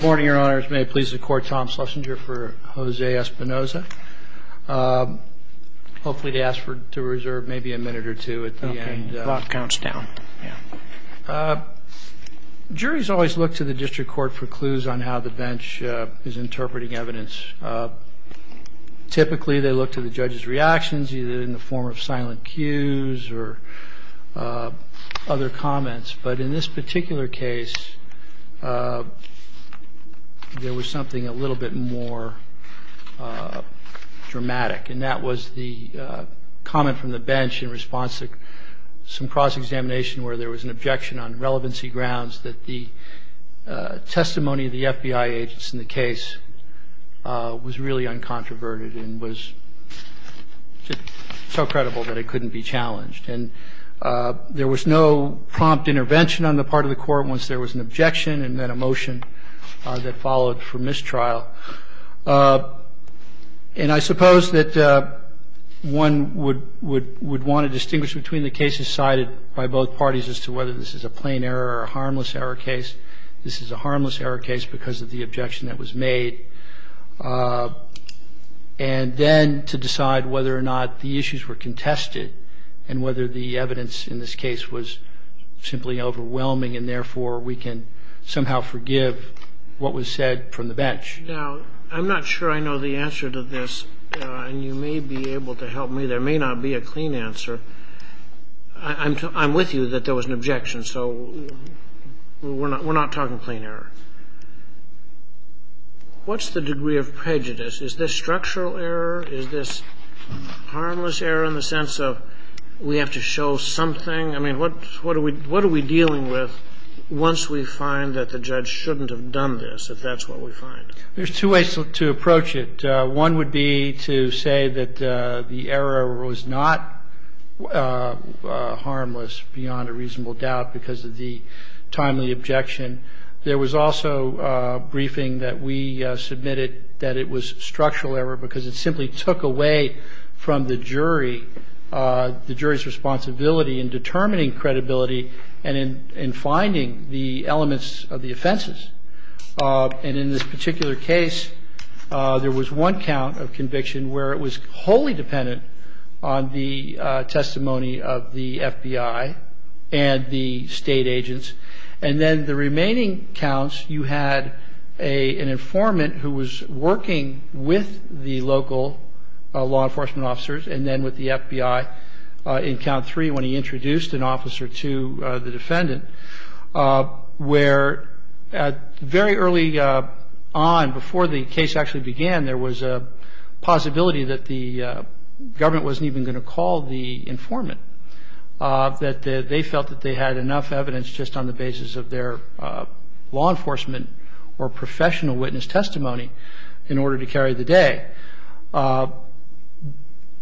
Good morning, your honors. May it please the court, Tom Schlesinger for Jose Espinoza. Hopefully they asked to reserve maybe a minute or two at the end. Okay, the clock counts down. Juries always look to the district court for clues on how the bench is interpreting evidence. Typically they look to the judge's reactions, either in the form of silent cues or other comments. But in this particular case, there was something a little bit more dramatic. And that was the comment from the bench in response to some cross-examination where there was an objection on relevancy grounds that the testimony of the FBI agents in the case was really uncontroverted and was so credible that it couldn't be challenged. And there was no prompt intervention on the part of the court once there was an objection and then a motion that followed for mistrial. And I suppose that one would want to distinguish between the cases cited by both parties as to whether this is a plain error or a harmless error case. This is a harmless error case because of the objection that was made. And then to decide whether or not the issues were contested and whether the evidence in this case was simply overwhelming and therefore we can somehow forgive what was said from the bench. Now, I'm not sure I know the answer to this, and you may be able to help me. There may not be a clean answer. I'm with you that there was an objection, so we're not talking plain error. What's the degree of prejudice? Is this structural error? Is this harmless error in the sense of we have to show something? I mean, what are we dealing with once we find that the judge shouldn't have done this, if that's what we find? There's two ways to approach it. One would be to say that the error was not harmless beyond a reasonable doubt because of the timely objection. There was also a briefing that we submitted that it was structural error because it simply took away from the jury's responsibility in determining credibility and in finding the elements of the offenses. And in this particular case, there was one count of conviction where it was wholly dependent on the testimony of the FBI and the state agents. And then the remaining counts, you had an informant who was working with the local law enforcement officers and then with the FBI in count three when he introduced an officer to the defendant, where very early on, before the case actually began, there was a possibility that the government wasn't even going to call the informant, that they felt that they had enough evidence just on the basis of their law enforcement or professional witness testimony in order to carry the day.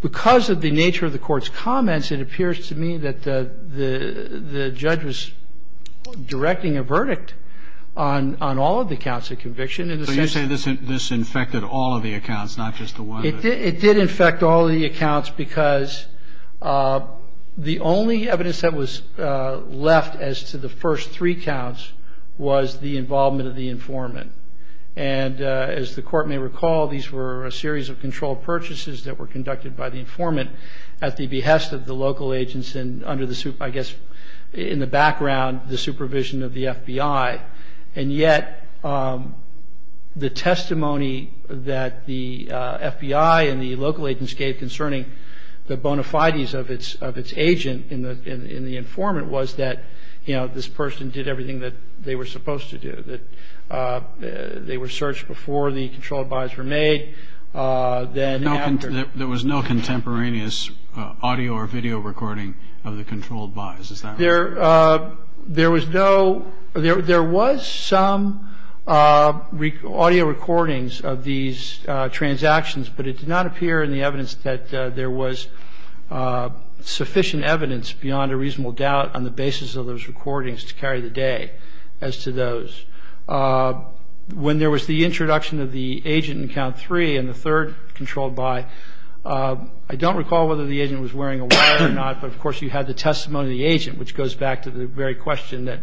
Because of the nature of the court's comments, it appears to me that the judge was directing a verdict on all of the counts of conviction. So you say this infected all of the accounts, not just the one? It did infect all of the accounts because the only evidence that was left as to the first three counts was the involvement of the informant. And as the court may recall, these were a series of controlled purchases that were conducted by the informant at the behest of the local agents and under the, I guess, in the background, the supervision of the FBI. And yet the testimony that the FBI and the local agents gave concerning the bona fides of its agent and the informant was that this person did everything that they were supposed to do, that they were searched before the controlled buys were made. There was no contemporaneous audio or video recording of the controlled buys, is that right? There was some audio recordings of these transactions, but it did not appear in the evidence that there was sufficient evidence beyond a reasonable doubt on the basis of those recordings to carry the day as to those. When there was the introduction of the agent in count three and the third controlled buy, I don't recall whether the agent was wearing a wire or not, but of course you had the testimony of the agent, which goes back to the very question that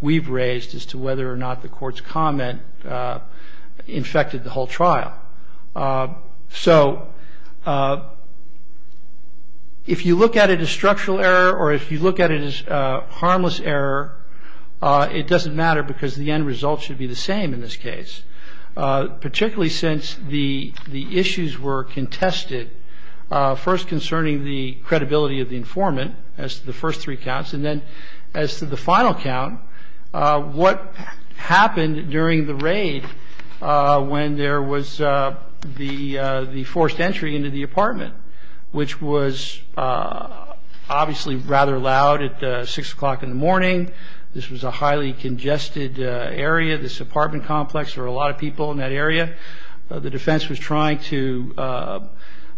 we've raised as to whether or not the court's comment infected the whole trial. So if you look at it as structural error or if you look at it as harmless error, it doesn't matter because the end result should be the same in this case, particularly since the issues were contested, first concerning the credibility of the informant as to the first three counts and then as to the final count, what happened during the raid when there was the forced entry into the apartment, which was obviously rather loud at 6 o'clock in the morning. This was a highly congested area, this apartment complex. There were a lot of people in that area. The defense was trying to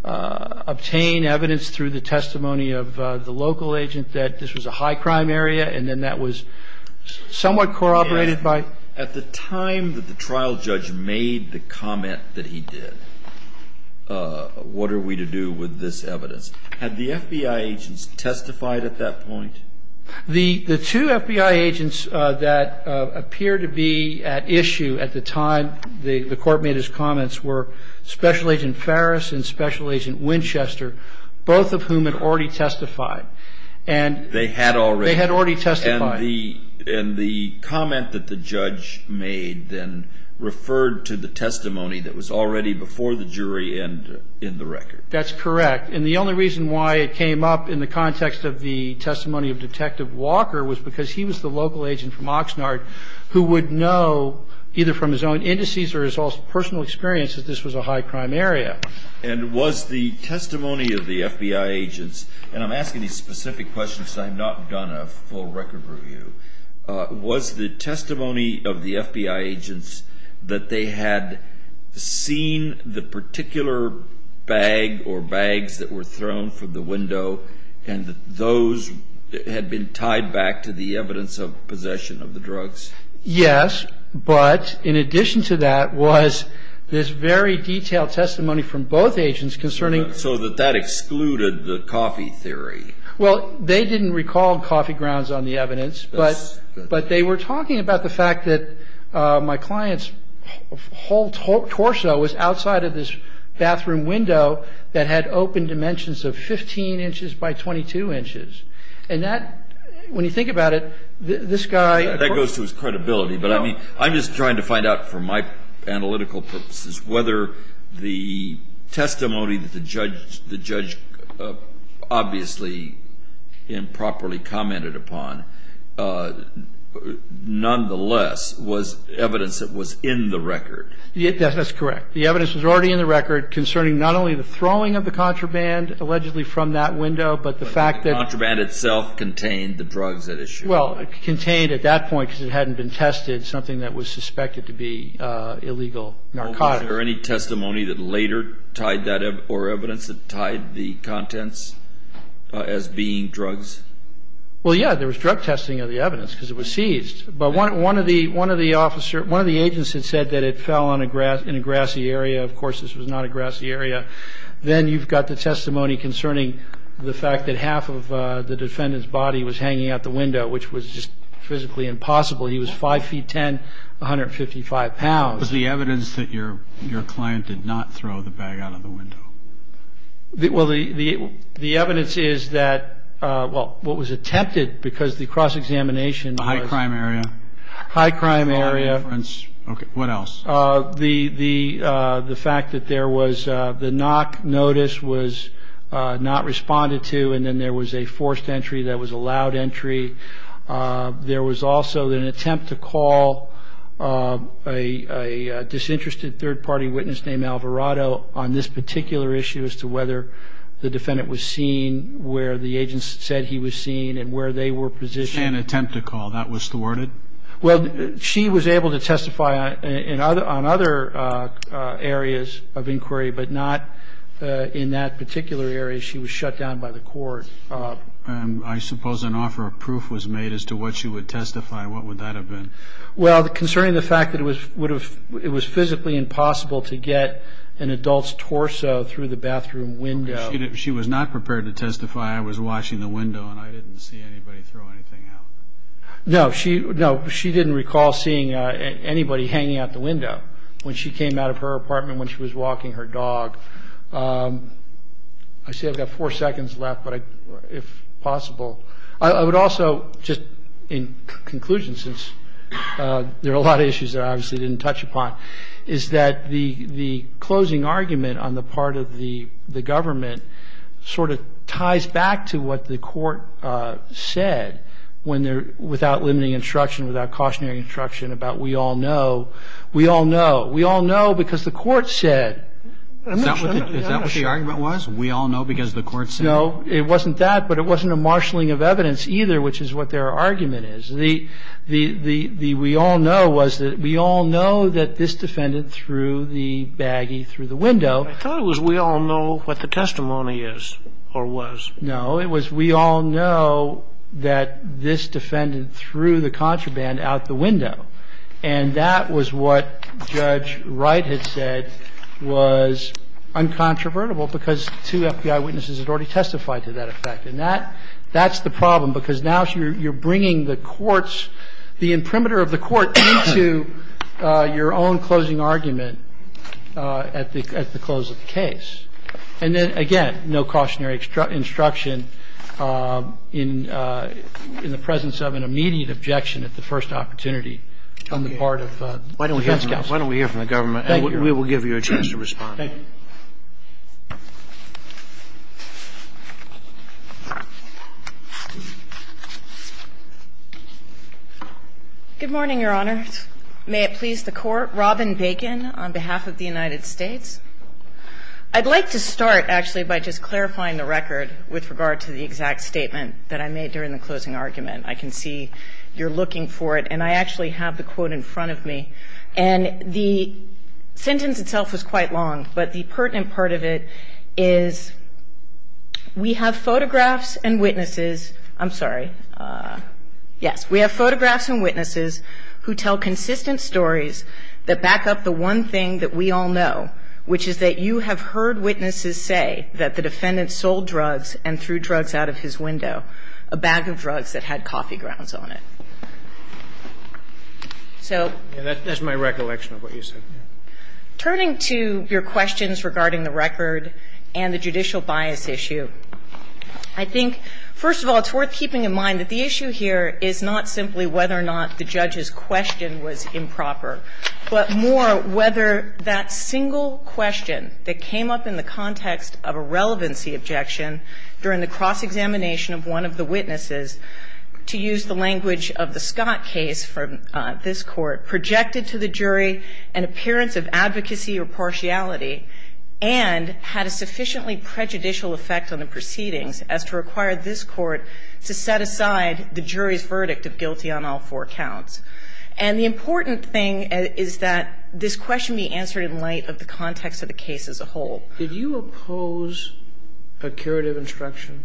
obtain evidence through the testimony of the local agent that this was a high crime area and then that was somewhat corroborated by. At the time that the trial judge made the comment that he did, what are we to do with this evidence? Had the FBI agents testified at that point? The two FBI agents that appear to be at issue at the time, the court made his comments, were Special Agent Farris and Special Agent Winchester, both of whom had already testified. They had already testified. And the comment that the judge made then referred to the testimony that was already before the jury and in the record. That's correct. And the only reason why it came up in the context of the testimony of Detective Walker was because he was the local agent from Oxnard who would know, either from his own indices or his own personal experience, that this was a high crime area. And was the testimony of the FBI agents, and I'm asking these specific questions because I have not done a full record review, was the testimony of the FBI agents that they had seen the particular bag or bags that were thrown from the window and those had been tied back to the evidence of possession of the drugs? Yes, but in addition to that was this very detailed testimony from both agents concerning So that that excluded the coffee theory? Well, they didn't recall coffee grounds on the evidence, but they were talking about the fact that my client's whole torso was outside of this bathroom window that had open dimensions of 15 inches by 22 inches. And that, when you think about it, this guy That goes to his credibility, but I mean, I'm just trying to find out for my analytical purposes whether the testimony that the judge obviously improperly commented upon, nonetheless, was evidence that was in the record. Yes, that's correct. The evidence was already in the record concerning not only the throwing of the contraband allegedly from that window, but the fact that The contraband itself contained the drugs at issue. Well, it contained at that point because it hadn't been tested, something that was suspected to be illegal narcotics. Was there any testimony that later tied that up or evidence that tied the contents as being drugs? Well, yeah, there was drug testing of the evidence because it was seized. But one of the agents had said that it fell in a grassy area. Of course, this was not a grassy area. Then you've got the testimony concerning the fact that half of the defendant's body was hanging out the window, which was just physically impossible. He was 5 feet 10, 155 pounds. Was the evidence that your client did not throw the bag out of the window? Well, the evidence is that, well, what was attempted because the cross-examination High crime area. High crime area. What else? The fact that there was the knock notice was not responded to, and then there was a forced entry that was allowed entry. There was also an attempt to call a disinterested third-party witness named Alvarado on this particular issue as to whether the defendant was seen where the agents said he was seen and where they were positioned. An attempt to call that was thwarted? Well, she was able to testify on other areas of inquiry, but not in that particular area. She was shut down by the court. I suppose an offer of proof was made as to what she would testify. What would that have been? Well, concerning the fact that it was physically impossible to get an adult's torso through the bathroom window. She was not prepared to testify. I was watching the window, and I didn't see anybody throw anything out. No, she didn't recall seeing anybody hanging out the window when she came out of her apartment, when she was walking her dog. I see I've got four seconds left, if possible. I would also, just in conclusion, since there are a lot of issues that I obviously didn't touch upon, is that the closing argument on the part of the government sort of ties back to what the court said without limiting instruction, without cautionary instruction about we all know. We all know. We all know because the court said. Is that what the argument was? We all know because the court said? No, it wasn't that, but it wasn't a marshalling of evidence either, which is what their argument is. The we all know was that we all know that this defendant threw the baggie through the window. I thought it was we all know what the testimony is or was. No, it was we all know that this defendant threw the contraband out the window. And that was what Judge Wright had said was uncontrovertible because two FBI witnesses had already testified to that effect. And that's the problem because now you're bringing the courts, the imprimatur of the court into your own closing argument at the close of the case. And then, again, no cautionary instruction in the presence of an immediate objection at the first opportunity on the part of defense counsel. Why don't we hear from the government and we will give you a chance to respond. Thank you. Good morning, Your Honor. May it please the Court. Robin Bacon on behalf of the United States. I'd like to start, actually, by just clarifying the record with regard to the exact statement that I made during the closing argument. I can see you're looking for it, and I actually have the quote in front of me. And the sentence itself was quite long, but the pertinent part of it is we have photographs and witnesses. I'm sorry. Yes. We have photographs and witnesses who tell consistent stories that back up the one thing that we all know, which is that you have heard witnesses say that the defendant sold drugs and threw drugs out of his window, a bag of drugs that had coffee grounds on it. So that's my recollection of what you said. Turning to your questions regarding the record and the judicial bias issue, I think, first of all, it's worth keeping in mind that the issue here is not simply whether or not the judge's question was improper, but more whether that single question that came up in the context of a relevancy objection during the cross-examination of one of the witnesses, to use the language of the Scott case from this Court, projected to the jury an appearance of advocacy or partiality and had a sufficiently prejudicial effect on the proceedings as to require this Court to set aside the jury's verdict of guilty on all four counts. And the important thing is that this question be answered in light of the context of the case as a whole. Did you oppose a curative instruction?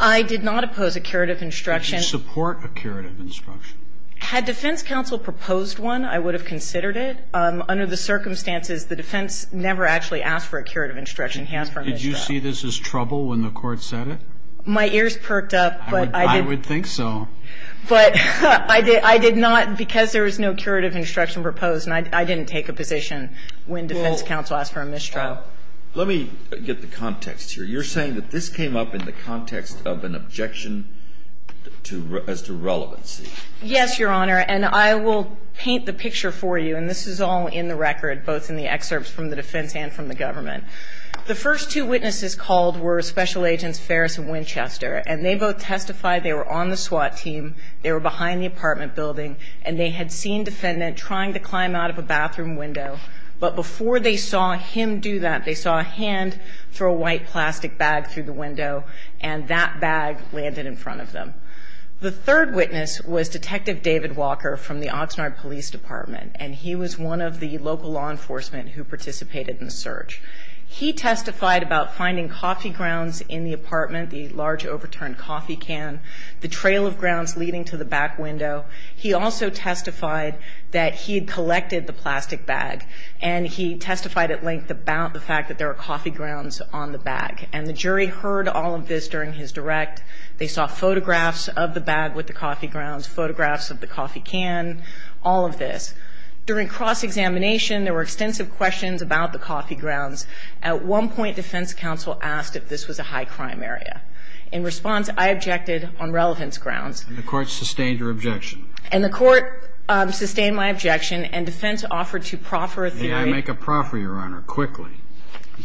I did not oppose a curative instruction. Did you support a curative instruction? Had defense counsel proposed one, I would have considered it. Under the circumstances, the defense never actually asked for a curative instruction. He asked for a mistrial. Did you see this as trouble when the Court said it? My ears perked up, but I did. I would think so. But I did not, because there was no curative instruction proposed and I didn't take a position when defense counsel asked for a mistrial. Let me get the context here. You're saying that this came up in the context of an objection as to relevancy. Yes, Your Honor. And I will paint the picture for you, and this is all in the record, both in the excerpts from the defense and from the government. The first two witnesses called were Special Agents Ferris and Winchester, and they both testified they were on the SWAT team, they were behind the apartment building, and they had seen defendant trying to climb out of a bathroom window, but before they saw him do that, they saw a hand throw a white plastic bag through the window and that bag landed in front of them. The third witness was Detective David Walker from the Oxnard Police Department, and he was one of the local law enforcement who participated in the search. He testified about finding coffee grounds in the apartment, the large overturned coffee can, the trail of grounds leading to the back window. He also testified that he had collected the plastic bag, and he testified at length about the fact that there were coffee grounds on the bag. And the jury heard all of this during his direct. They saw photographs of the bag with the coffee grounds, photographs of the coffee can, all of this. During cross-examination, there were extensive questions about the coffee grounds. At one point, defense counsel asked if this was a high-crime area. In response, I objected on relevance grounds. And the court sustained your objection. And the court sustained my objection, and defense offered to proffer a theory. May I make a proffer, Your Honor, quickly?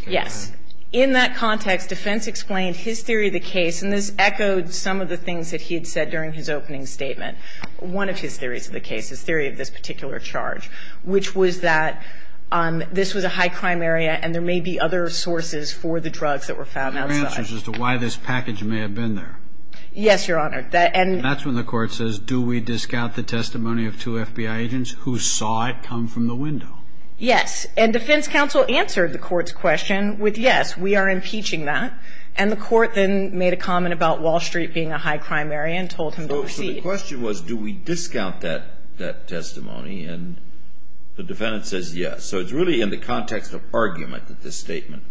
Yes. In that context, defense explained his theory of the case, and this echoed some of the things that he had said during his opening statement. One of his theories of the case, his theory of this particular charge, which was that this was a high-crime area and there may be other sources for the drugs that were found outside. Your answer is as to why this package may have been there. Yes, Your Honor. And that's when the court says, do we discount the testimony of two FBI agents who saw it come from the window? Yes. And defense counsel answered the court's question with yes, we are impeaching that. And the court then made a comment about Wall Street being a high-crime area and told him to proceed. So the question was, do we discount that testimony? And the defendant says yes. So it's really in the context of argument that this statement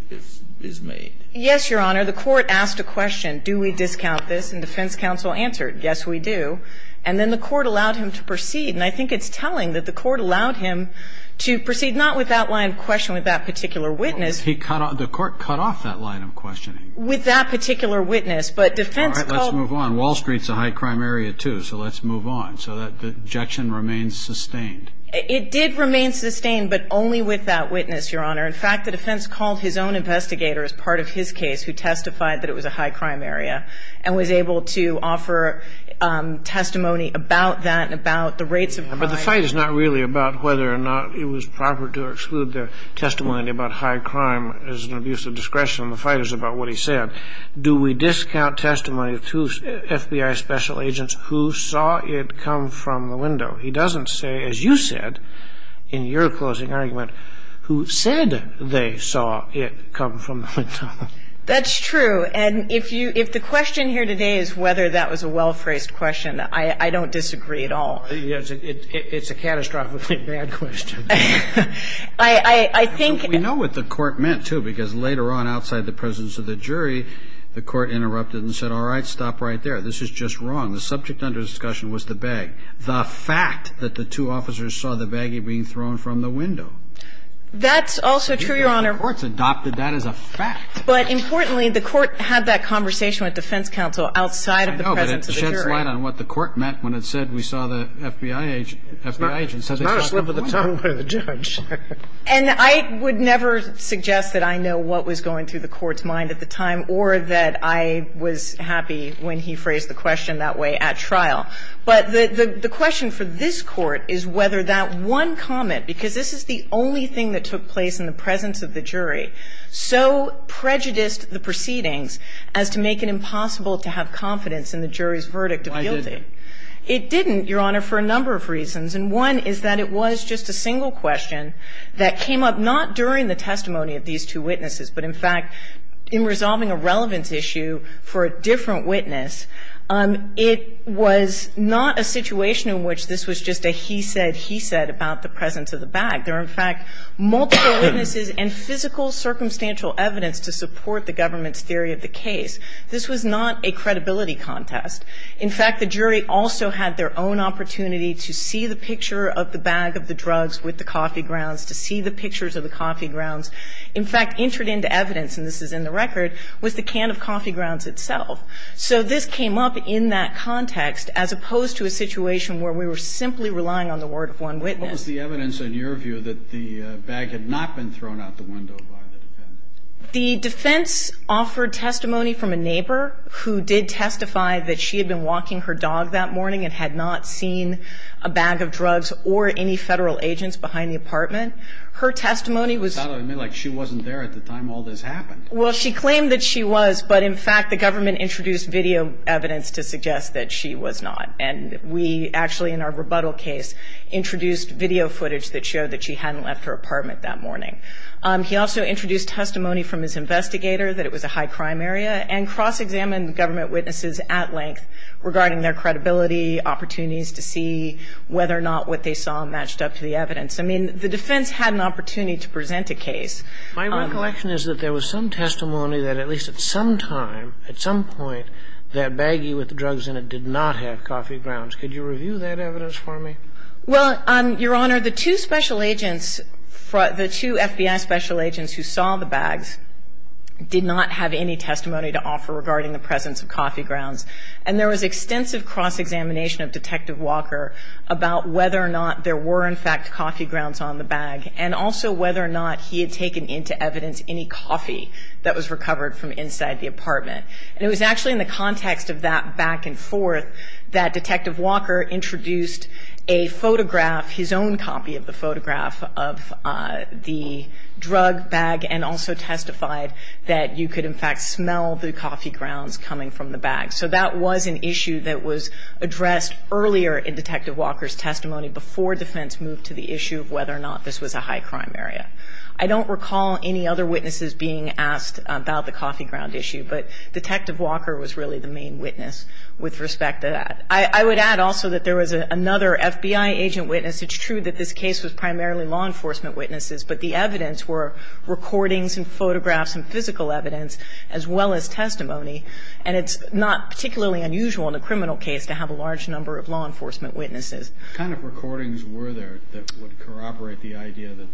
is made. Yes, Your Honor. The court asked a question. Do we discount this? And defense counsel answered, yes, we do. And then the court allowed him to proceed. And I think it's telling that the court allowed him to proceed not with that line of questioning with that particular witness. Well, he cut off the court cut off that line of questioning. With that particular witness. But defense called. All right. Let's move on. Wall Street's a high-crime area, too. So let's move on. So that objection remains sustained. It did remain sustained, but only with that witness, Your Honor. In fact, the defense called his own investigator as part of his case who testified that it was a high-crime area and was able to offer testimony about that and about the rates of crime. But the fight is not really about whether or not it was proper to exclude their testimony about high crime as an abuse of discretion. The fight is about what he said. Do we discount testimony to FBI special agents who saw it come from the window? He doesn't say, as you said in your closing argument, who said they saw it come from the window. That's true. And if you if the question here today is whether that was a well-phrased question, I don't disagree at all. It's a catastrophically bad question. I think. We know what the court meant, too, because later on outside the presence of the jury, the court interrupted and said, all right, stop right there. This is just wrong. The subject under discussion was the bag. The fact that the two officers saw the baggie being thrown from the window. That's also true, Your Honor. The courts adopted that as a fact. But importantly, the court had that conversation with defense counsel outside of the presence of the jury. I know, but it sheds light on what the court meant when it said we saw the FBI agent say they saw it from the window. It's not a slip of the tongue by the judge. And I would never suggest that I know what was going through the court's mind at the time or that I was happy when he phrased the question that way at trial. But the question for this Court is whether that one comment, because this is the only thing that took place in the presence of the jury, so prejudiced the proceedings as to make it impossible to have confidence in the jury's verdict of guilty. It didn't, Your Honor, for a number of reasons. And one is that it was just a single question that came up not during the testimony of these two witnesses, but in fact in resolving a relevance issue for a different witness. It was not a situation in which this was just a he said, he said about the presence of the bag. There are, in fact, multiple witnesses and physical circumstantial evidence to support the government's theory of the case. This was not a credibility contest. In fact, the jury also had their own opportunity to see the picture of the bag of the drugs with the coffee grounds, to see the pictures of the coffee grounds. In fact, entered into evidence, and this is in the record, was the can of coffee grounds itself. So this came up in that context as opposed to a situation where we were simply relying on the word of one witness. What was the evidence in your view that the bag had not been thrown out the window by the defendant? The defense offered testimony from a neighbor who did testify that she had been walking her dog that morning and had not seen a bag of drugs or any Federal agents behind the apartment. Her testimony was. It sounded to me like she wasn't there at the time all this happened. Well, she claimed that she was, but in fact, the government introduced video evidence to suggest that she was not. And we actually, in our rebuttal case, introduced video footage that showed that she hadn't left her apartment that morning. He also introduced testimony from his investigator that it was a high-crime area and cross-examined government witnesses at length regarding their credibility, opportunities to see whether or not what they saw matched up to the evidence. I mean, the defense had an opportunity to present a case. My recollection is that there was some testimony that, at least at some time, at some point, that baggie with the drugs in it did not have coffee grounds. Could you review that evidence for me? Well, Your Honor, the two special agents, the two FBI special agents who saw the bags did not have any testimony to offer regarding the presence of coffee grounds. And there was extensive cross-examination of Detective Walker about whether or not there were, in fact, coffee grounds on the bag, and also whether or not he had taken into evidence any coffee that was recovered from inside the apartment. And it was actually in the context of that back and forth that Detective Walker introduced a photograph, his own copy of the photograph of the drug bag, and also testified that you could, in fact, smell the coffee grounds coming from the bag. So that was an issue that was addressed earlier in Detective Walker's testimony before defense moved to the issue of whether or not this was a high-crime area. I don't recall any other witnesses being asked about the coffee ground issue, but Detective Walker was really the main witness with respect to that. I would add also that there was another FBI agent witness. It's true that this case was primarily law enforcement witnesses, but the evidence were recordings and photographs and physical evidence as well as testimony. And it's not particularly unusual in a criminal case to have a large number of law enforcement witnesses. What kind of recordings were there that would corroborate the idea that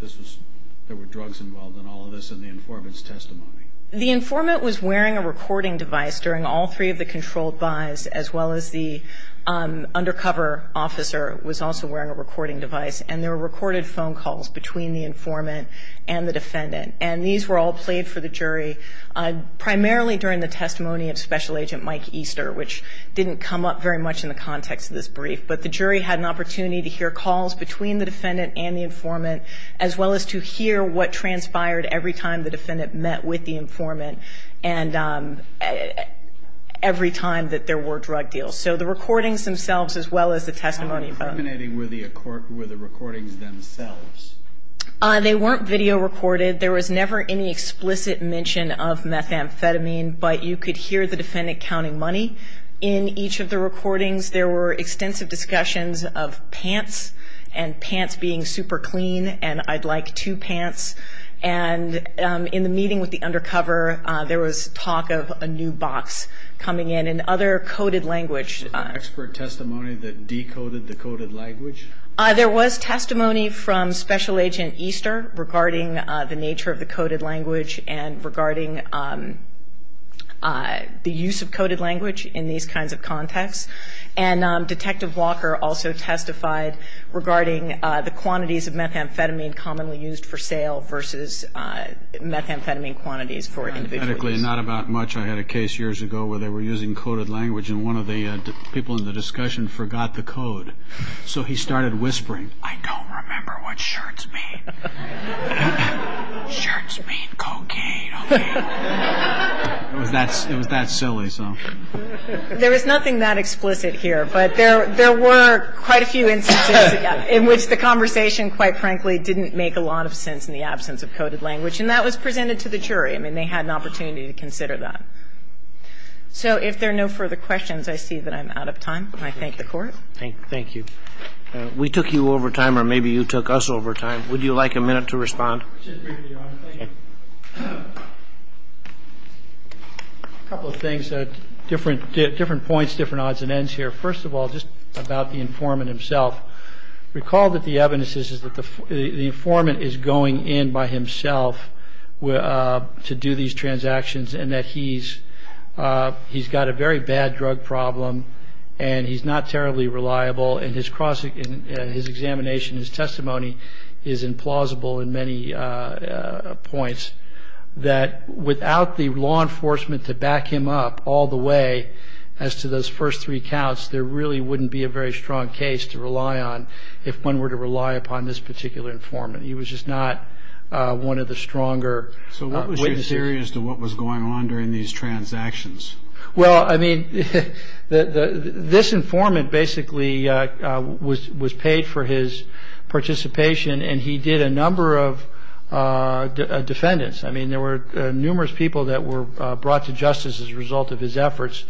there were drugs involved in all of this in the informant's testimony? The informant was wearing a recording device during all three of the controlled buys, as well as the undercover officer was also wearing a recording device. And there were recorded phone calls between the informant and the defendant. And these were all played for the jury primarily during the testimony of Special Agent Mike Easter, which didn't come up very much in the context of this brief. But the jury had an opportunity to hear calls between the defendant and the informant, as well as to hear what transpired every time the defendant met with the informant and every time that there were drug deals. So the recordings themselves as well as the testimony. How incriminating were the recordings themselves? They weren't video recorded. There was never any explicit mention of methamphetamine, but you could hear the defendant counting money in each of the recordings. There were extensive discussions of pants and pants being super clean and I'd like two pants. And in the meeting with the undercover, there was talk of a new box coming in and other coded language. Was there expert testimony that decoded the coded language? There was testimony from Special Agent Easter regarding the nature of the coded language and regarding the use of coded language in these kinds of contexts. And Detective Walker also testified regarding the quantities of methamphetamine commonly used for sale versus methamphetamine quantities for individuals. Not about much. I had a case years ago where they were using coded language and one of the people in the discussion forgot the code. So he started whispering, I don't remember what shirts mean. Shirts mean cocaine. It was that silly. There is nothing that explicit here, but there were quite a few instances in which the conversation, quite frankly, didn't make a lot of sense in the absence of coded language. And that was presented to the jury. I mean, they had an opportunity to consider that. So if there are no further questions, I see that I'm out of time. I thank the Court. Thank you. We took you over time or maybe you took us over time. Would you like a minute to respond? Just briefly, Your Honor. Thank you. A couple of things, different points, different odds and ends here. First of all, just about the informant himself. Recall that the evidence is that the informant is going in by himself to do these transactions and that he's got a very bad drug problem and he's not terribly reliable. And his examination, his testimony is implausible in many points. That without the law enforcement to back him up all the way as to those first three counts, there really wouldn't be a very strong case to rely on if one were to rely upon this particular informant. He was just not one of the stronger witnesses. So what was your theory as to what was going on during these transactions? Well, I mean, this informant basically was paid for his participation and he did a number of defendants. I mean, there were numerous people that were brought to justice as a result of his efforts.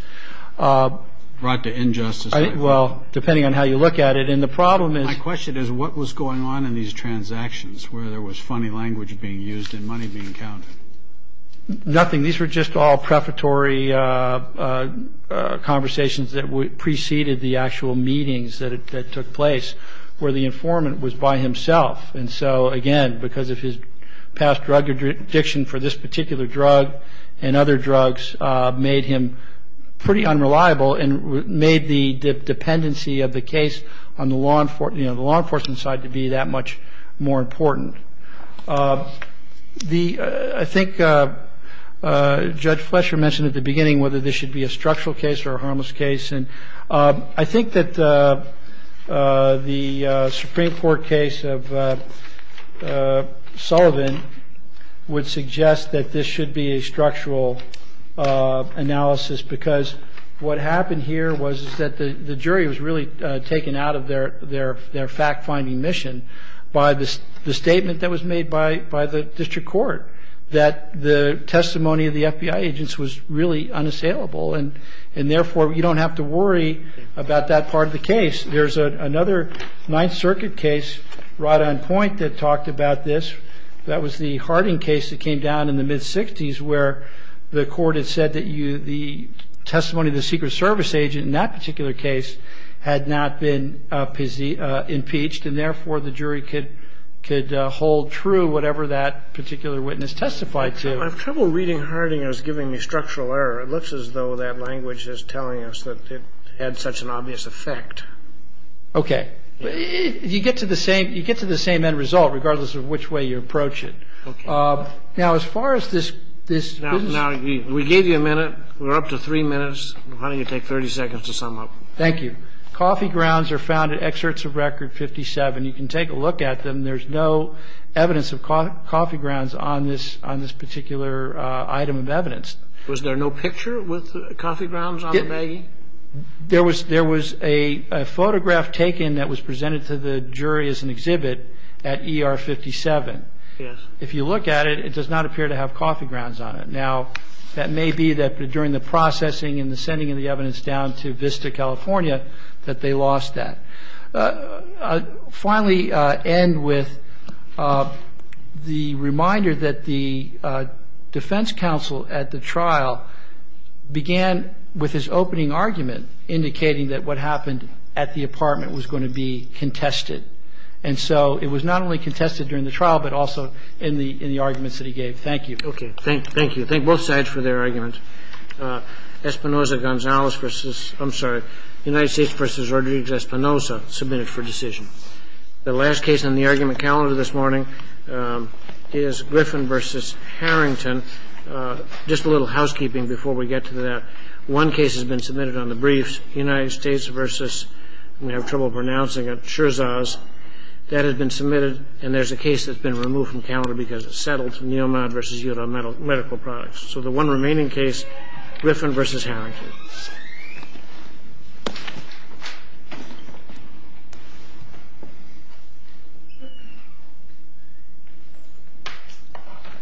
Brought to injustice? Well, depending on how you look at it. And the problem is- My question is what was going on in these transactions where there was funny language being used and money being counted? Nothing. These were just all prefatory conversations that preceded the actual meetings that took place where the informant was by himself. And so, again, because of his past drug addiction for this particular drug and other drugs made him pretty unreliable and made the dependency of the case on the law enforcement side to be that much more important. I think Judge Fletcher mentioned at the beginning whether this should be a structural case or a harmless case. And I think that the Supreme Court case of Sullivan would suggest that this should be a structural analysis because what happened here was that the jury was really taken out of their fact-finding mission by the statement that was made by the district court that the testimony of the FBI agents was really unassailable. And, therefore, you don't have to worry about that part of the case. There's another Ninth Circuit case right on point that talked about this. That was the Harding case that came down in the mid-'60s where the court had said that the testimony of the Secret Service agent in that particular case had not been impeached. And, therefore, the jury could hold true whatever that particular witness testified to. I'm having trouble reading Harding as giving me structural error. It looks as though that language is telling us that it had such an obvious effect. Okay. You get to the same end result regardless of which way you approach it. Okay. Now, as far as this business. Now, we gave you a minute. We're up to three minutes. Why don't you take 30 seconds to sum up? Thank you. Coffee grounds are found in excerpts of Record 57. You can take a look at them. There's no evidence of coffee grounds on this particular item of evidence. Was there no picture with coffee grounds on the baggie? There was a photograph taken that was presented to the jury as an exhibit at ER 57. Yes. If you look at it, it does not appear to have coffee grounds on it. Now, that may be that during the processing and the sending of the evidence down to Vista, California, that they lost that. I'll finally end with the reminder that the defense counsel at the trial began with his opening argument, indicating that what happened at the apartment was going to be contested. And so it was not only contested during the trial, but also in the arguments that he gave. Thank you. Okay. Thank you. Thank both sides for their argument. Espinoza-Gonzalez versus – I'm sorry, United States versus Rodriguez-Espinoza, submitted for decision. The last case on the argument calendar this morning is Griffin versus Harrington. Just a little housekeeping before we get to that. One case has been submitted on the briefs, United States versus – I'm going to have trouble pronouncing it – Scherzoz. That has been submitted, and there's a case that's been removed from calendar because it's settled, Neumann versus Udall Medical Products. So the one remaining case, Griffin versus Harrington.